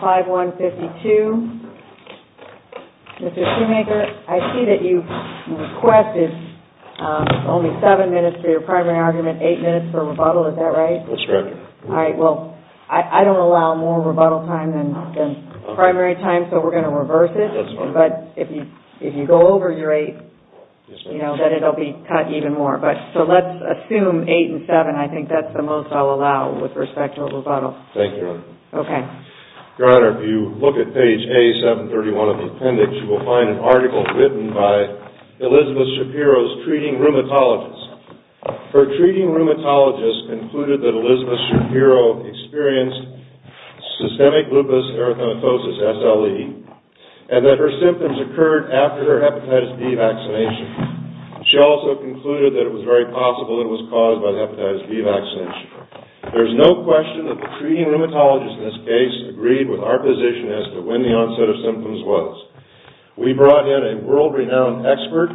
5152. Mr. Shoemaker, I see that you've requested only seven minutes for your primary argument, and eight minutes for rebuttal. Is that right? MR. SHOEMAKER That's correct. MS. SHAPIRO All right. Well, I don't allow more rebuttal time than primary time, so we're going to reverse it. But if you go over your eight, you know, then it'll be cut even more. So let's assume eight and seven. I think that's the most I'll allow with respect to a rebuttal. MR. SHOEMAKER Thank you, Your Honor. MS. SHAPIRO Okay. MR. SHOEMAKER Your Honor, if you look at page A731 of the appendix, you will find an article written by Elizabeth Shapiro's treating rheumatologist. Her treating rheumatologist concluded that Elizabeth Shapiro experienced systemic lupus erythematosus, SLE, and that her symptoms occurred after her hepatitis B vaccination. She also concluded that it was very possible it was caused by the hepatitis B vaccination. There's no question that the treating rheumatologist in this case agreed with our position as to when the onset of symptoms was. We brought in a world-renowned expert,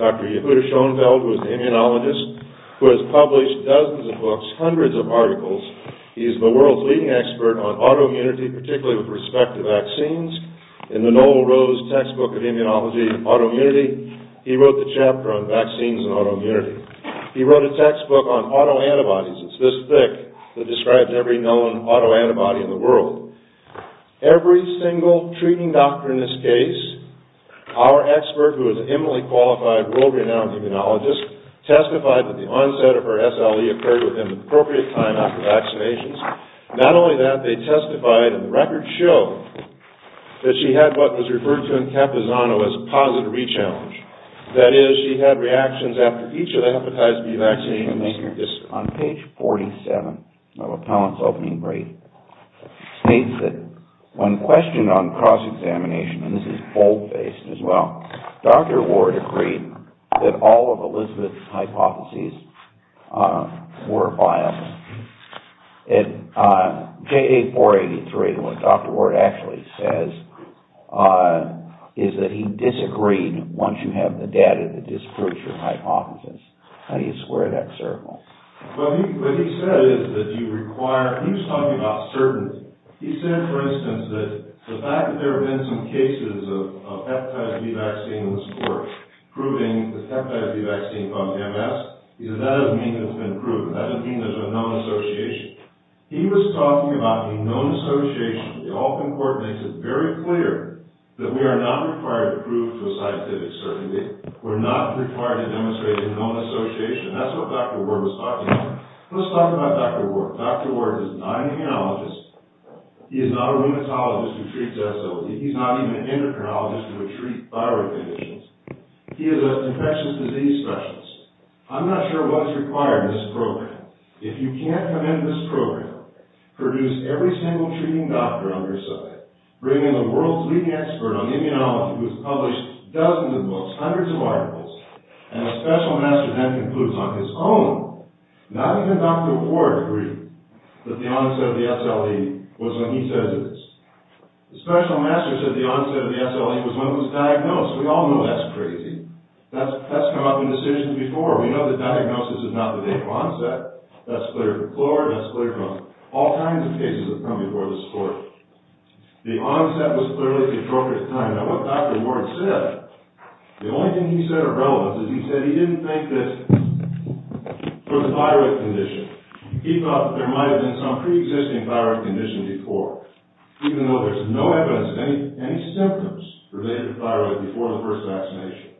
Dr. Yehuda Schoenfeld, who is an immunologist, who has published dozens of books, hundreds of articles. He is the world's leading expert on autoimmunity, particularly with respect to vaccines. In the Noel Rose Textbook of Immunology and Autoimmunity, he wrote the chapter on vaccines and autoimmunity. He wrote a textbook on autoantibodies. It's this thick that describes every known autoantibody in the world. Every single treating doctor in this case, our expert, who is an eminently qualified, world-renowned immunologist, testified that the onset of her SLE occurred within the appropriate time after vaccinations. Not only that, they testified, and records show, that she had what was referred to in Campesano as a positive re-challenge. That is, she had reactions after each of the hepatitis B vaccinations. On page 47 of Appellant's opening brief, it states that, when questioned on cross-examination, and this is bold-faced as well, Dr. Ward agreed that all of Elizabeth's hypotheses were biased. At JA 483, what Dr. Ward actually says is that he disagreed once you have the data that you require. He was talking about certainty. He said, for instance, that the fact that there have been some cases of hepatitis B vaccines proving the hepatitis B vaccine from MS, he said, that doesn't mean it's been proven. That doesn't mean there's a known association. He was talking about a known association. The Alton Court makes it very clear that we are not required to prove for scientific certainty. We're not required to demonstrate a known association. That's what Dr. Ward was talking about. Let's talk about Dr. Ward. Dr. Ward is not an immunologist. He is not a rheumatologist who treats SOD. He's not even an endocrinologist who would treat thyroid conditions. He is an infectious disease specialist. I'm not sure what is required in this program. If you can't come into this program, produce every single treating doctor on your side, bring in the world's leading expert on immunology who has published dozens of books, hundreds of articles, and a special master then concludes on his own. Not even Dr. Ward agreed that the onset of the SLE was when he says it is. The special master said the onset of the SLE was when it was diagnosed. We all know that's crazy. That's come up in decisions before. We know the diagnosis is not the date of onset. That's clear from Florida. That's clear from all kinds of cases that have come before this court. The onset was clearly controlled at that time. Now, what Dr. Ward said, the only thing he said of relevance is he said he didn't think that for the thyroid condition, he thought there might have been some pre-existing thyroid condition before, even though there's no evidence of any symptoms related to thyroid before the first vaccination.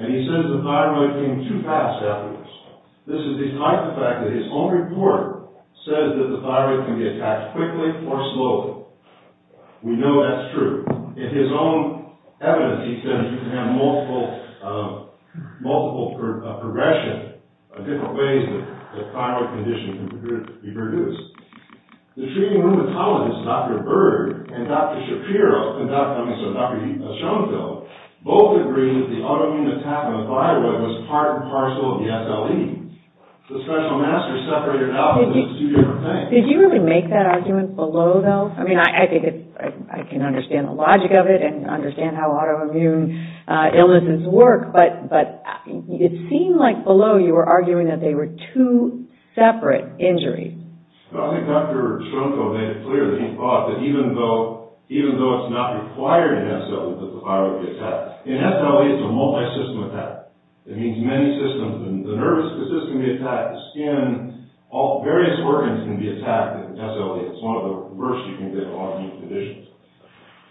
And he says the thyroid came too fast after this. This is the type of fact that his own report says that the thyroid can be attacked quickly or slowly. We know that's true. In his own evidence, he said that you can have multiple progression of different ways that thyroid condition can be produced. The treating rheumatologist, Dr. Berg and Dr. Schoenfeld, both agreed that the autoimmune attack on the thyroid was part and parcel of the SLE. The special master separated out the two different things. Did you really make that argument below, though? I mean, I think I can understand the logic of it and understand how autoimmune illnesses work, but it seemed like below you were arguing that they were two separate injuries. I think Dr. Schoenfeld made it clear that he thought that even though it's not required in SLE that the thyroid would be attacked, in SLE it's a multi-system attack. It means the nervous system can be attacked, the skin, all various organs can be attacked in SLE. It's one of the worst you can get in autoimmune conditions.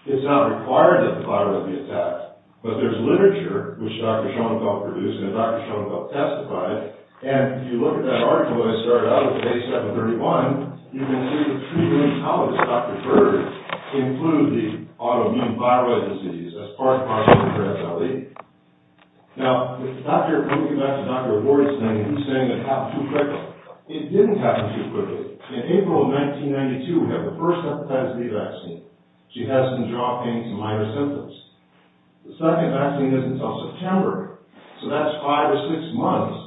It's not required that the thyroid be attacked, but there's literature which Dr. Schoenfeld produced and Dr. Schoenfeld testified, and if you look at that article that started out on page 731, you can see that treating rheumatologist, Dr. Berg, included the autoimmune thyroid disease as part and component of SLE. Now, looking back at Dr. Gordy's thing, he's saying it happened too quickly. It didn't happen too quickly. In April of 1992, we have the first hepatitis B vaccine. She has some jaw pains and minor symptoms. The second vaccine isn't until September, so that's five or six months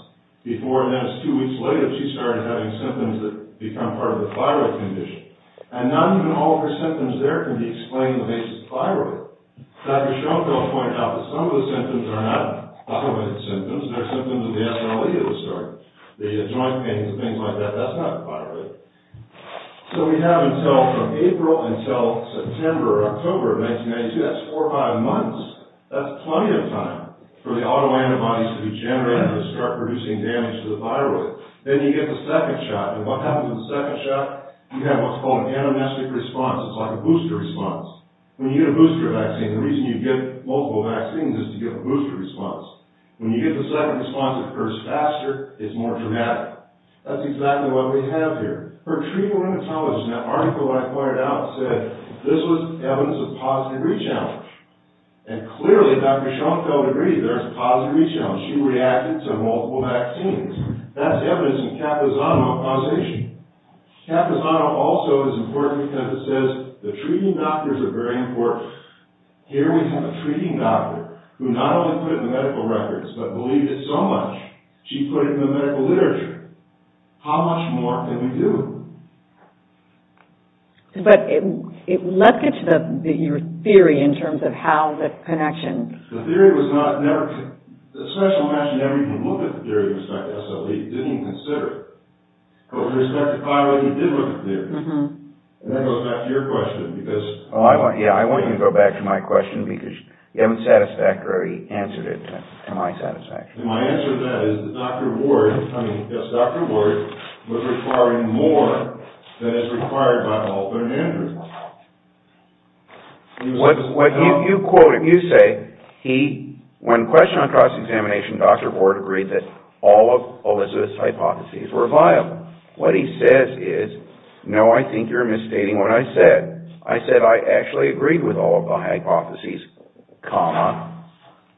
before, and that's two weeks later, she started having symptoms that become part of the thyroid condition. And not even all of her symptoms there can be explained in the face of the thyroid. Dr. Schoenfeld pointed out that some of the symptoms are not autoimmune symptoms, they're symptoms of the SLE that was started. The joint pains and things like that, that's not the thyroid. So we have until, from April until September or October of 1992, that's four or five months. That's plenty of time for the autoantibodies to be generated and start producing damage to the thyroid. Then you get the second shot, and what happens in the second shot? You have what's called an anamnestic response. It's like a booster response. When you get a booster vaccine, the reason you get multiple vaccines is to get a booster response. When you get the second response, it occurs faster, it's more dramatic. That's exactly what we have here. For treating rheumatology, that article that I pointed out said this was evidence of positive re-challenge. And clearly, Dr. Schoenfeld agreed, there's positive re-challenge. She reacted to multiple vaccines. That's evidence in Kapazano causation. Kapazano also is important because it says the treating doctors are very important. Here we have a treating doctor who not only put in the medical records, but believed it so much, she put it in the medical literature. How much more can we do? But, let's get to your theory in terms of how that connection... The theory was not, never, the specialist actually never even looked at the theory in respect to SLE. He didn't even consider it. But with respect to thyroid, he did look at the theory. And that goes back to your question, because... I want you to go back to my question, because you haven't satisfactorily answered it to my satisfaction. My answer to that is that Dr. Ward, I mean, yes, Dr. Ward was requiring more than is required by all third handers. What you quoted, you say, when questioned on cross-examination, Dr. Ward agreed that all of Elizabeth's hypotheses were viable. What he says is, no, I think you're misstating what I said. I said I actually agreed with all of the hypotheses, comma,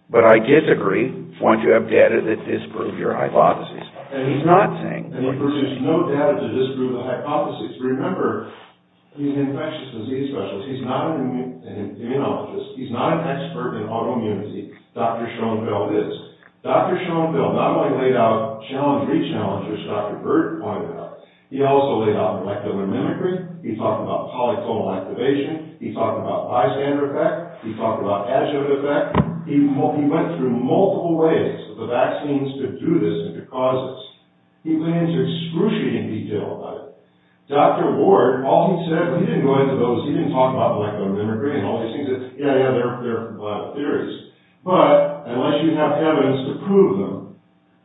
but I disagree once you have data that disproves your hypotheses. And he's not saying... There's no data to disprove the hypotheses. Remember, he's an infectious disease specialist. He's not an immunologist. He's not an expert in autoimmunity. Dr. Schoenfeld is. Dr. Schoenfeld not only laid out challengery challenges, as Dr. Bird pointed out, he also laid out molecular mimicry. He talked about polyclonal activation. He talked about bystander effect. He talked about adjunct effect. He went through multiple ways for the vaccines to do this and to cause this. He went into excruciating detail about it. Dr. Ward, all he said, well, he didn't go into those, he didn't talk about molecular mimicry and all these things that, yeah, yeah, they're viable theories, but unless you have evidence to prove them,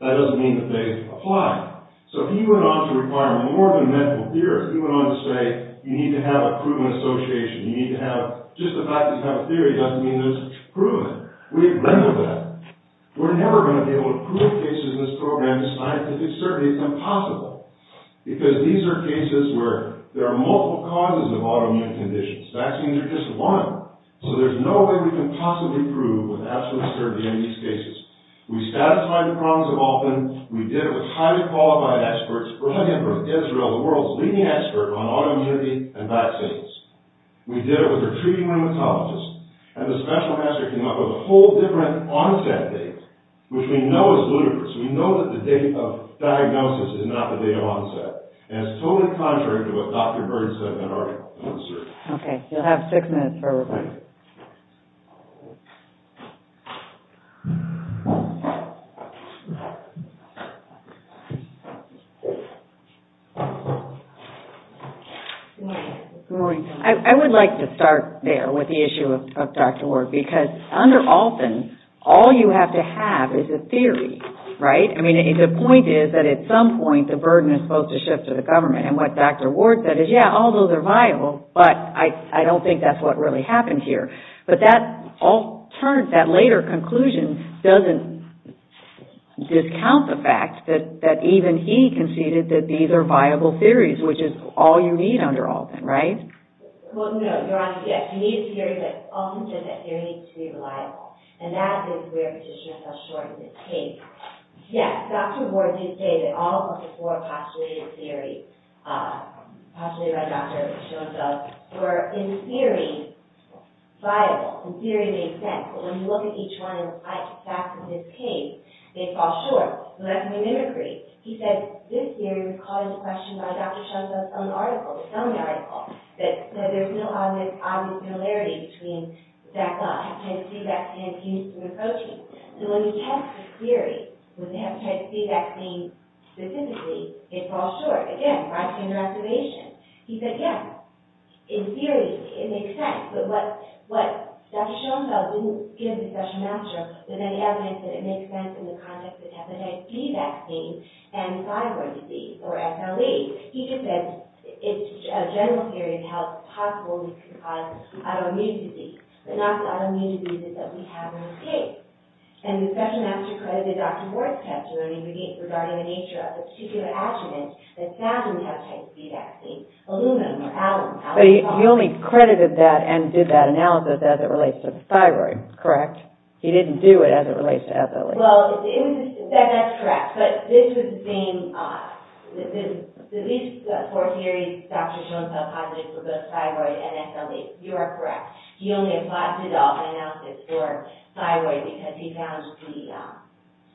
that doesn't mean that they apply. So he went on to require more than medical theorists. He went on to say, you need to have a proven association. You need to have... Just the fact that you have a theory doesn't mean there's proven. We have none of that. We're never going to be able to prove cases in this program, the scientific survey, it's impossible. Because these are cases where there are multiple causes of autoimmune conditions. Vaccines are just one. So there's no way we can possibly prove with absolute certainty in these cases. We satisfied the problems of Alton. We did it with highly qualified experts. We're looking for Israel, the world's leading expert on autoimmunity and vaccines. We did it with a treating rheumatologist. And the special master came up with a whole different onset date, which we know is ludicrous. We know that the date of diagnosis is not the date of onset. And it's totally contrary to what Dr. Bird said in that article. Okay, you'll have six minutes for a rebuttal. Good morning. I would like to start there with the issue of Dr. Ward, because under Alton, all you have to have is a theory, right? I mean, the point is that at some point, the burden is supposed to shift to the government. And what Dr. Ward said is, yeah, all those are viable, but I don't think that's what really happened here. But that later conclusion doesn't discount the fact that even he conceded that these are viable theories, which is all you need under Alton, right? Well, no, Your Honor, yes. You need a theory, but Alton said that theory needs to be reliable. And that is where Petitioner fell short in this case. Yes, Dr. Ward did say that all of the four postulated theories, postulated by Dr. Schoenfeld, were in theory viable, in theory they make sense. But when you look at each one of the facts in this case, they fall short. So that's my mimicry. He said this theory was called into question by Dr. Schoenfeld's own article, his own article, that there's no obvious similarity between the fact that hepatitis B vaccine is used in the protein. So when you test the theory, with the hepatitis B vaccine specifically, it falls short. Again, right here in the reservation. He said, yes, in theory it makes sense. But what Dr. Schoenfeld didn't give the special master was any evidence that it makes sense in the context of hepatitis B vaccine and thyroid disease, or SLE. He just said, it's a general theory of how it's possible we can cause autoimmune disease, but not the autoimmune diseases that we have in this case. And the special master credited Dr. Ward's testimony regarding the nature of the particular adjuvant that's found in hepatitis B vaccine, aluminum or alum. But he only credited that and did that analysis as it relates to the thyroid, correct? He didn't do it as it relates to SLE. Well, that's correct. But this was being, these four theories, Dr. Schoenfeld posited for both thyroid and SLE. You are correct. He only applied the adult analysis for thyroid because he found the,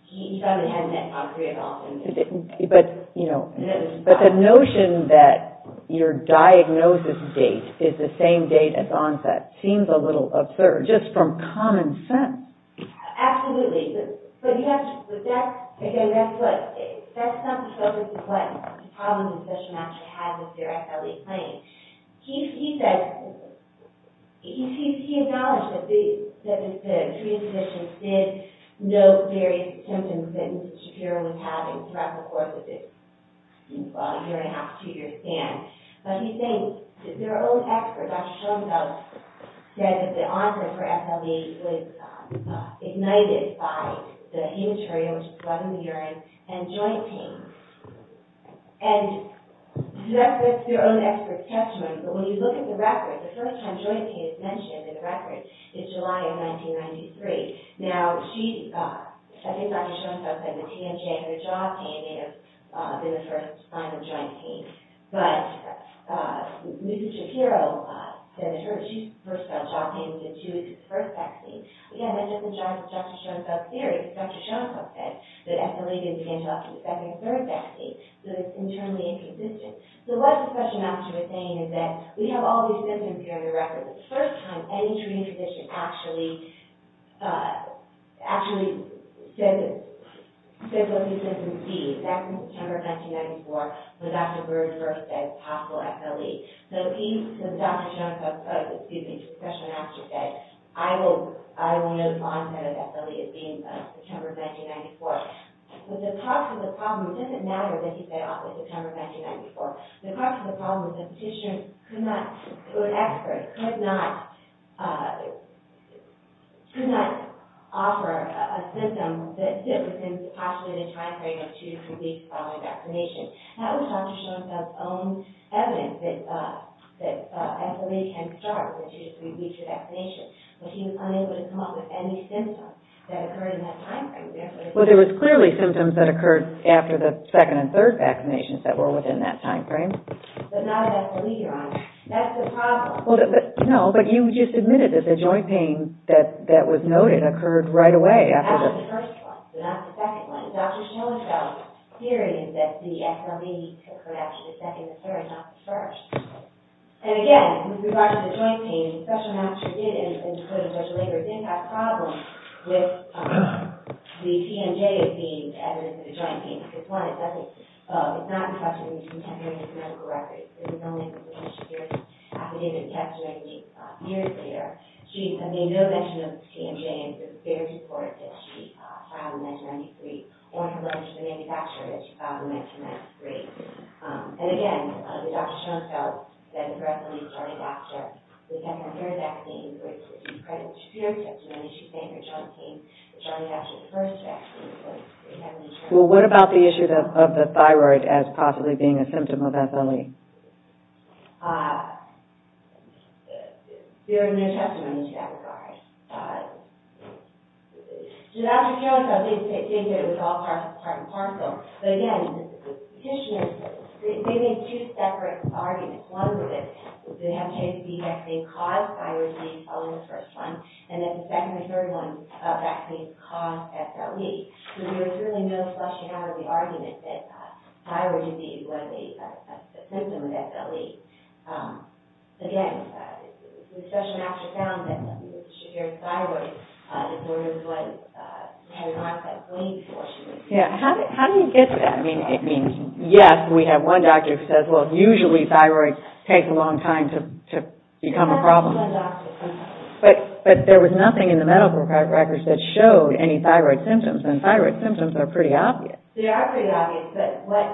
he found the evidence on preadult. But, you know, but the notion that your diagnosis date is the same date as onset seems a little absurd. Just from common sense. Absolutely. But you have to, but that's, again, that's what, that's not the focus of what problems the special master had with their SLE claim. He said, he acknowledged that the SLE was not a problem throughout the course of this year and a half, two year span. But he thinks that their own expert, Dr. Schoenfeld, said that the onset for SLE was ignited by the hematuria, which is blood in the urine, and joint pain. And that's their own expert's testimony. But when you look at the record, the first time joint pain is mentioned in the record is July of 1993. Now, she, I think Dr. Schoenfeld said the TNJ or the jaw pain may have been the first sign of joint pain. But, Mrs. Shapiro said that her, she first got a jaw pain in the two weeks of the first vaccine. Again, that doesn't judge Dr. Schoenfeld's theory. Dr. Schoenfeld said that SLE didn't begin to affect the second or third vaccine. So it's internally inconsistent. So what the special master was saying is that we have all these symptoms here in the record. But the first time any tradition actually says what these symptoms mean, back in September of 1994, when Dr. Bird first said possible SLE. So Dr. Schoenfeld said, excuse me, special master said, I will know the onset of SLE as being September of 1994. But the cause of the problem, it doesn't matter that he fell off in September of 1994. The cause of the problem is that the physician could not, or an expert could not, could not offer a symptom that fit within the postulated time frame of two to three weeks following vaccination. That was Dr. Schoenfeld's own evidence that SLE can start within two to three weeks of vaccination. But he was unable to come up with any symptoms that occurred in that time frame. Well, there was clearly symptoms that occurred after the second and third vaccinations that were within that time frame. But not an SLE, Your Honor. That's the problem. Well, no, but you just admitted that the joint pain that was noted occurred right away after the first one, not the second one. Dr. Schoenfeld's theory is that the SLE occurred after the second or third, not the first. And again, with regard to the joint pain, the special master did, and included Dr. Lager, did have problems with the TMJ as being evidence of the joint pain. Because one, it's not a question of contemporary medical records. It was only when Dr. Shapiro's affidavit was castrated years later, she had made no mention of the TMJ in her superior report that she filed in 1993, or her letter to the manufacturer that she filed in 1993. And again, Dr. Schoenfeld said the SLE started after the second or third vaccine, which is accredited by Shapiro's testimony. She said her joint pain started after the first vaccine. Well, what about the issue of the thyroid as possibly being a symptom of SLE? There are no testimonies to that regard. Dr. Schoenfeld did state that it was all part and parcel. But again, the petitioners, they made two separate arguments. One was that it had to be vaccine-caused thyroid pain following the first one, and that the there was really no fleshing out of the argument that thyroid disease was a symptom of SLE. Again, it was such an after-sound that Shapiro's thyroid disorder was what had marked that claim for her. Yeah. How do you get to that? I mean, yes, we have one doctor who says, well, usually thyroid takes a long time to become a problem. But there was nothing in the medical records that showed any thyroid symptoms. And thyroid symptoms are pretty obvious. They are pretty obvious. But what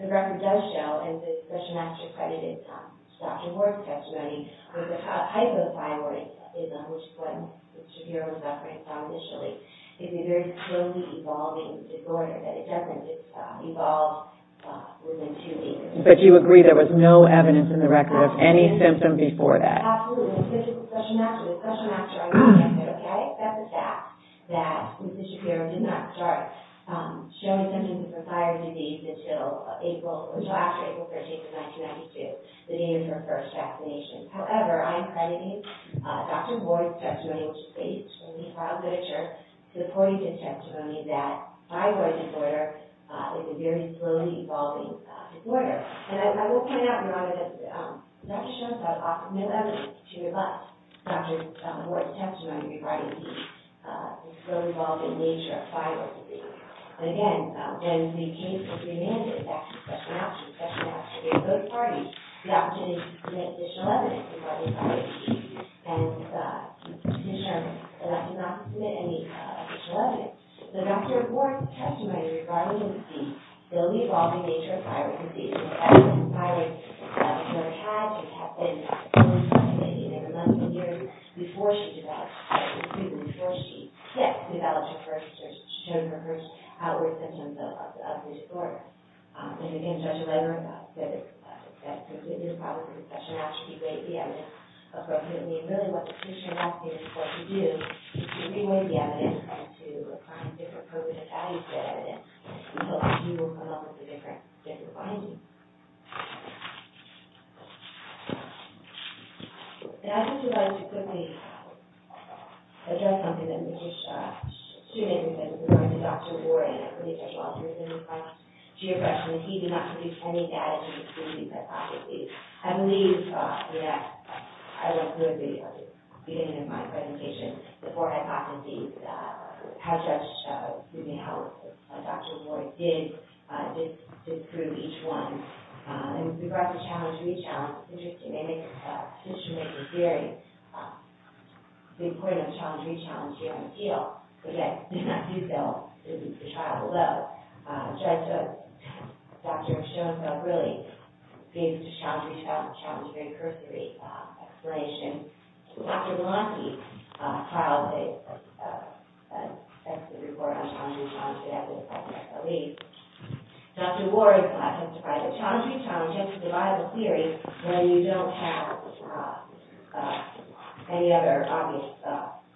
the record does show, and the special master accredited Dr. Ward's testimony, was a type of thyroidism, which is what Mr. Shapiro was afraid of initially. It's a very slowly evolving disorder that it doesn't just evolve within two weeks. But you agree there was no evidence in the record of any symptom before that? Absolutely. The special master I'm talking about, that's a fact that Mr. Shapiro did not start showing symptoms of thyroid disease until April, until after April 13th of 1992, the day of her first vaccination. However, I am crediting Dr. Ward's testimony, which is based on the trial literature, to the point of his testimony that thyroid disorder is a very slowly evolving disorder. And as I will point out, Dr. Shapiro has offered no evidence to rebut Dr. Ward's testimony regarding the slowly evolving nature of thyroid disease. And again, when the case was remanded back to the special master, the special master gave both parties the opportunity to submit additional evidence regarding thyroid disease and Mr. Shapiro did not submit any additional evidence. So Dr. Ward's testimony regarding the slowly evolving nature of thyroid disease is a fact that the thyroid disorder had to happen in the first place, maybe in a month or two years before she developed her first symptoms, before she hit, developed her first symptoms, showed her first outward symptoms of this disorder. And again, Dr. Wendler, that is probably a concession not to give away the evidence appropriately. And really what the position of health care is supposed to do is give away the evidence and try to find different codes of value for that evidence until you will come up with a different finding. And I would just like to quickly address something that a student had said regarding Dr. Ward and I believe Dr. Walter was in the class, Geofresh, and that he did not produce any data to exclude these hypotheses. I believe, yes, I will include the beginning of my presentation, the four hypotheses, how Dr. Ward did disprove each one. In regards to challenge-re-challenge, it's interesting. They make a history-making theory. The importance of challenge-re-challenge here on appeal, okay, did not do so. It was a trial of love. So Dr. Schoenfeld really gave a challenge-re-challenge, challenge-re-cursory explanation. Dr. Malonkey filed an excellent report on challenge-re-challenge. Dr. Ward testified that challenge-re-challenge is a viable theory when you don't have any other obvious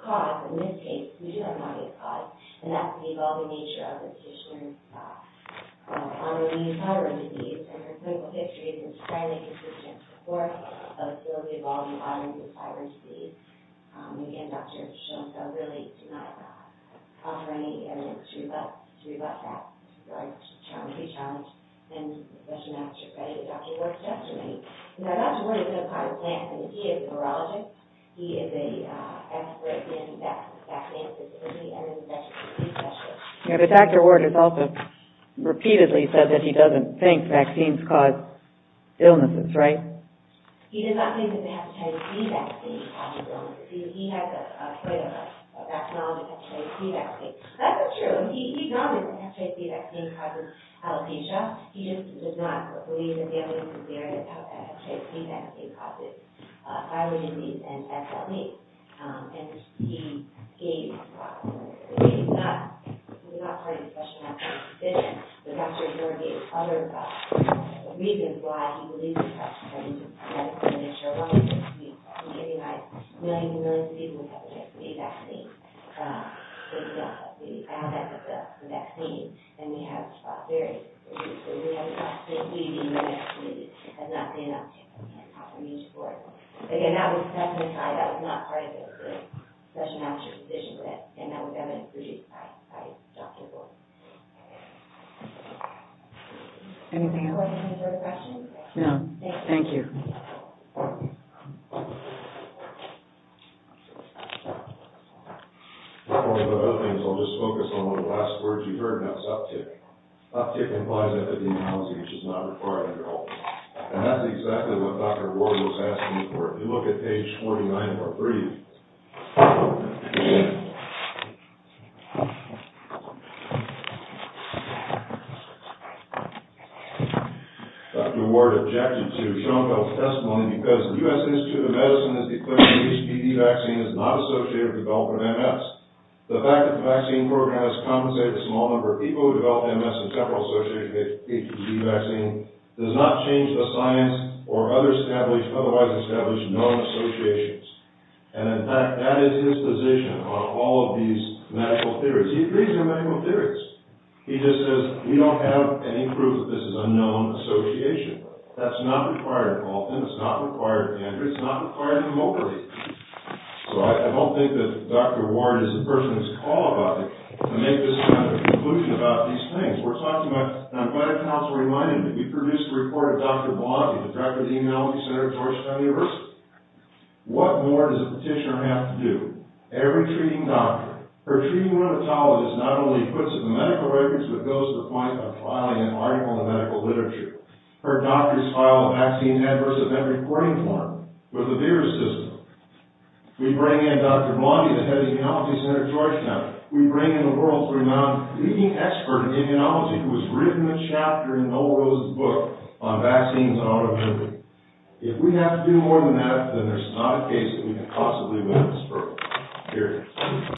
cause. In this case, we do have an obvious cause, and that's the evolving nature of the condition of autoimmune thyroid disease. And her clinical history is entirely consistent with the course of the evolving autoimmune thyroid disease. Again, Dr. Schoenfeld really did not offer any evidence to rebut that challenge-re-challenge. And Dr. Ward testified. Now, Dr. Ward is not part of the class. He is a virologist. He is an expert in vaccine-specific immunosuppression. Yeah, but Dr. Ward has also repeatedly said that he doesn't think vaccines cause illnesses, right? He does not think that hepatitis B vaccine causes illnesses. He has a way of acknowledging hepatitis B vaccine. That's not true. He acknowledges that hepatitis B vaccine causes alopecia. He just does not believe that the evidence is there that hepatitis B vaccine causes thyroid disease and SLE. He gave a thought. He's not part of the question. I'm not saying he's a physician. But Dr. Ward gave other reasons why he believes in hepatitis B vaccine. He gave a thought. He said, you know, millions and millions of people have hepatitis B vaccine. The effect of the vaccine. And we have this thought theory. So we have a thought theory. He, the immunologist, has not made enough evidence for it. Again, that was a testimony. That was not part of the session after the decision was made. And that was evidence produced by Dr. Ward. Anything else? Do I have time for a question? No. Thank you. One of the other things, I'll just focus on one of the last words you heard, and that's uptick. Uptick implies epidemiology, which is not required under all. And that's exactly what Dr. Ward was asking for. If you look at page 49 of Part 3. Dr. Ward objected to Schoenfeld's testimony because the U.S. Institute of Medicine has declared that the HPV vaccine is not associated with development of MS. The fact that the vaccine program has compensated a small number of people who develop MS and several associated with HPV vaccine does not change the science or other established, otherwise non-associations. And in fact, that is his position on all of these medical theories. He agrees with medical theories. He just says, we don't have any proof that this is a known association. That's not required of all of them. It's not required of Andrew. It's not required of nobody. So I don't think that Dr. Ward is the person who's called on to make this kind of conclusion about these things. We're talking about, and I'm glad Council reminded me, we produced a report of Dr. Ward. What more does a petitioner have to do? Every treating doctor. Her treating rheumatologist not only puts up the medical records, but goes to the point of filing an article in the medical literature. Her doctors file a vaccine adverse event reporting form with the VAERS system. We bring in Dr. Blondie, the head of immunology center at Georgetown. We bring in a world-renowned leading expert in immunology who has written a chapter in Noel Rose's book on vaccines and autoimmunity. If we have to do more than that, then there's not a case that we could possibly win this for.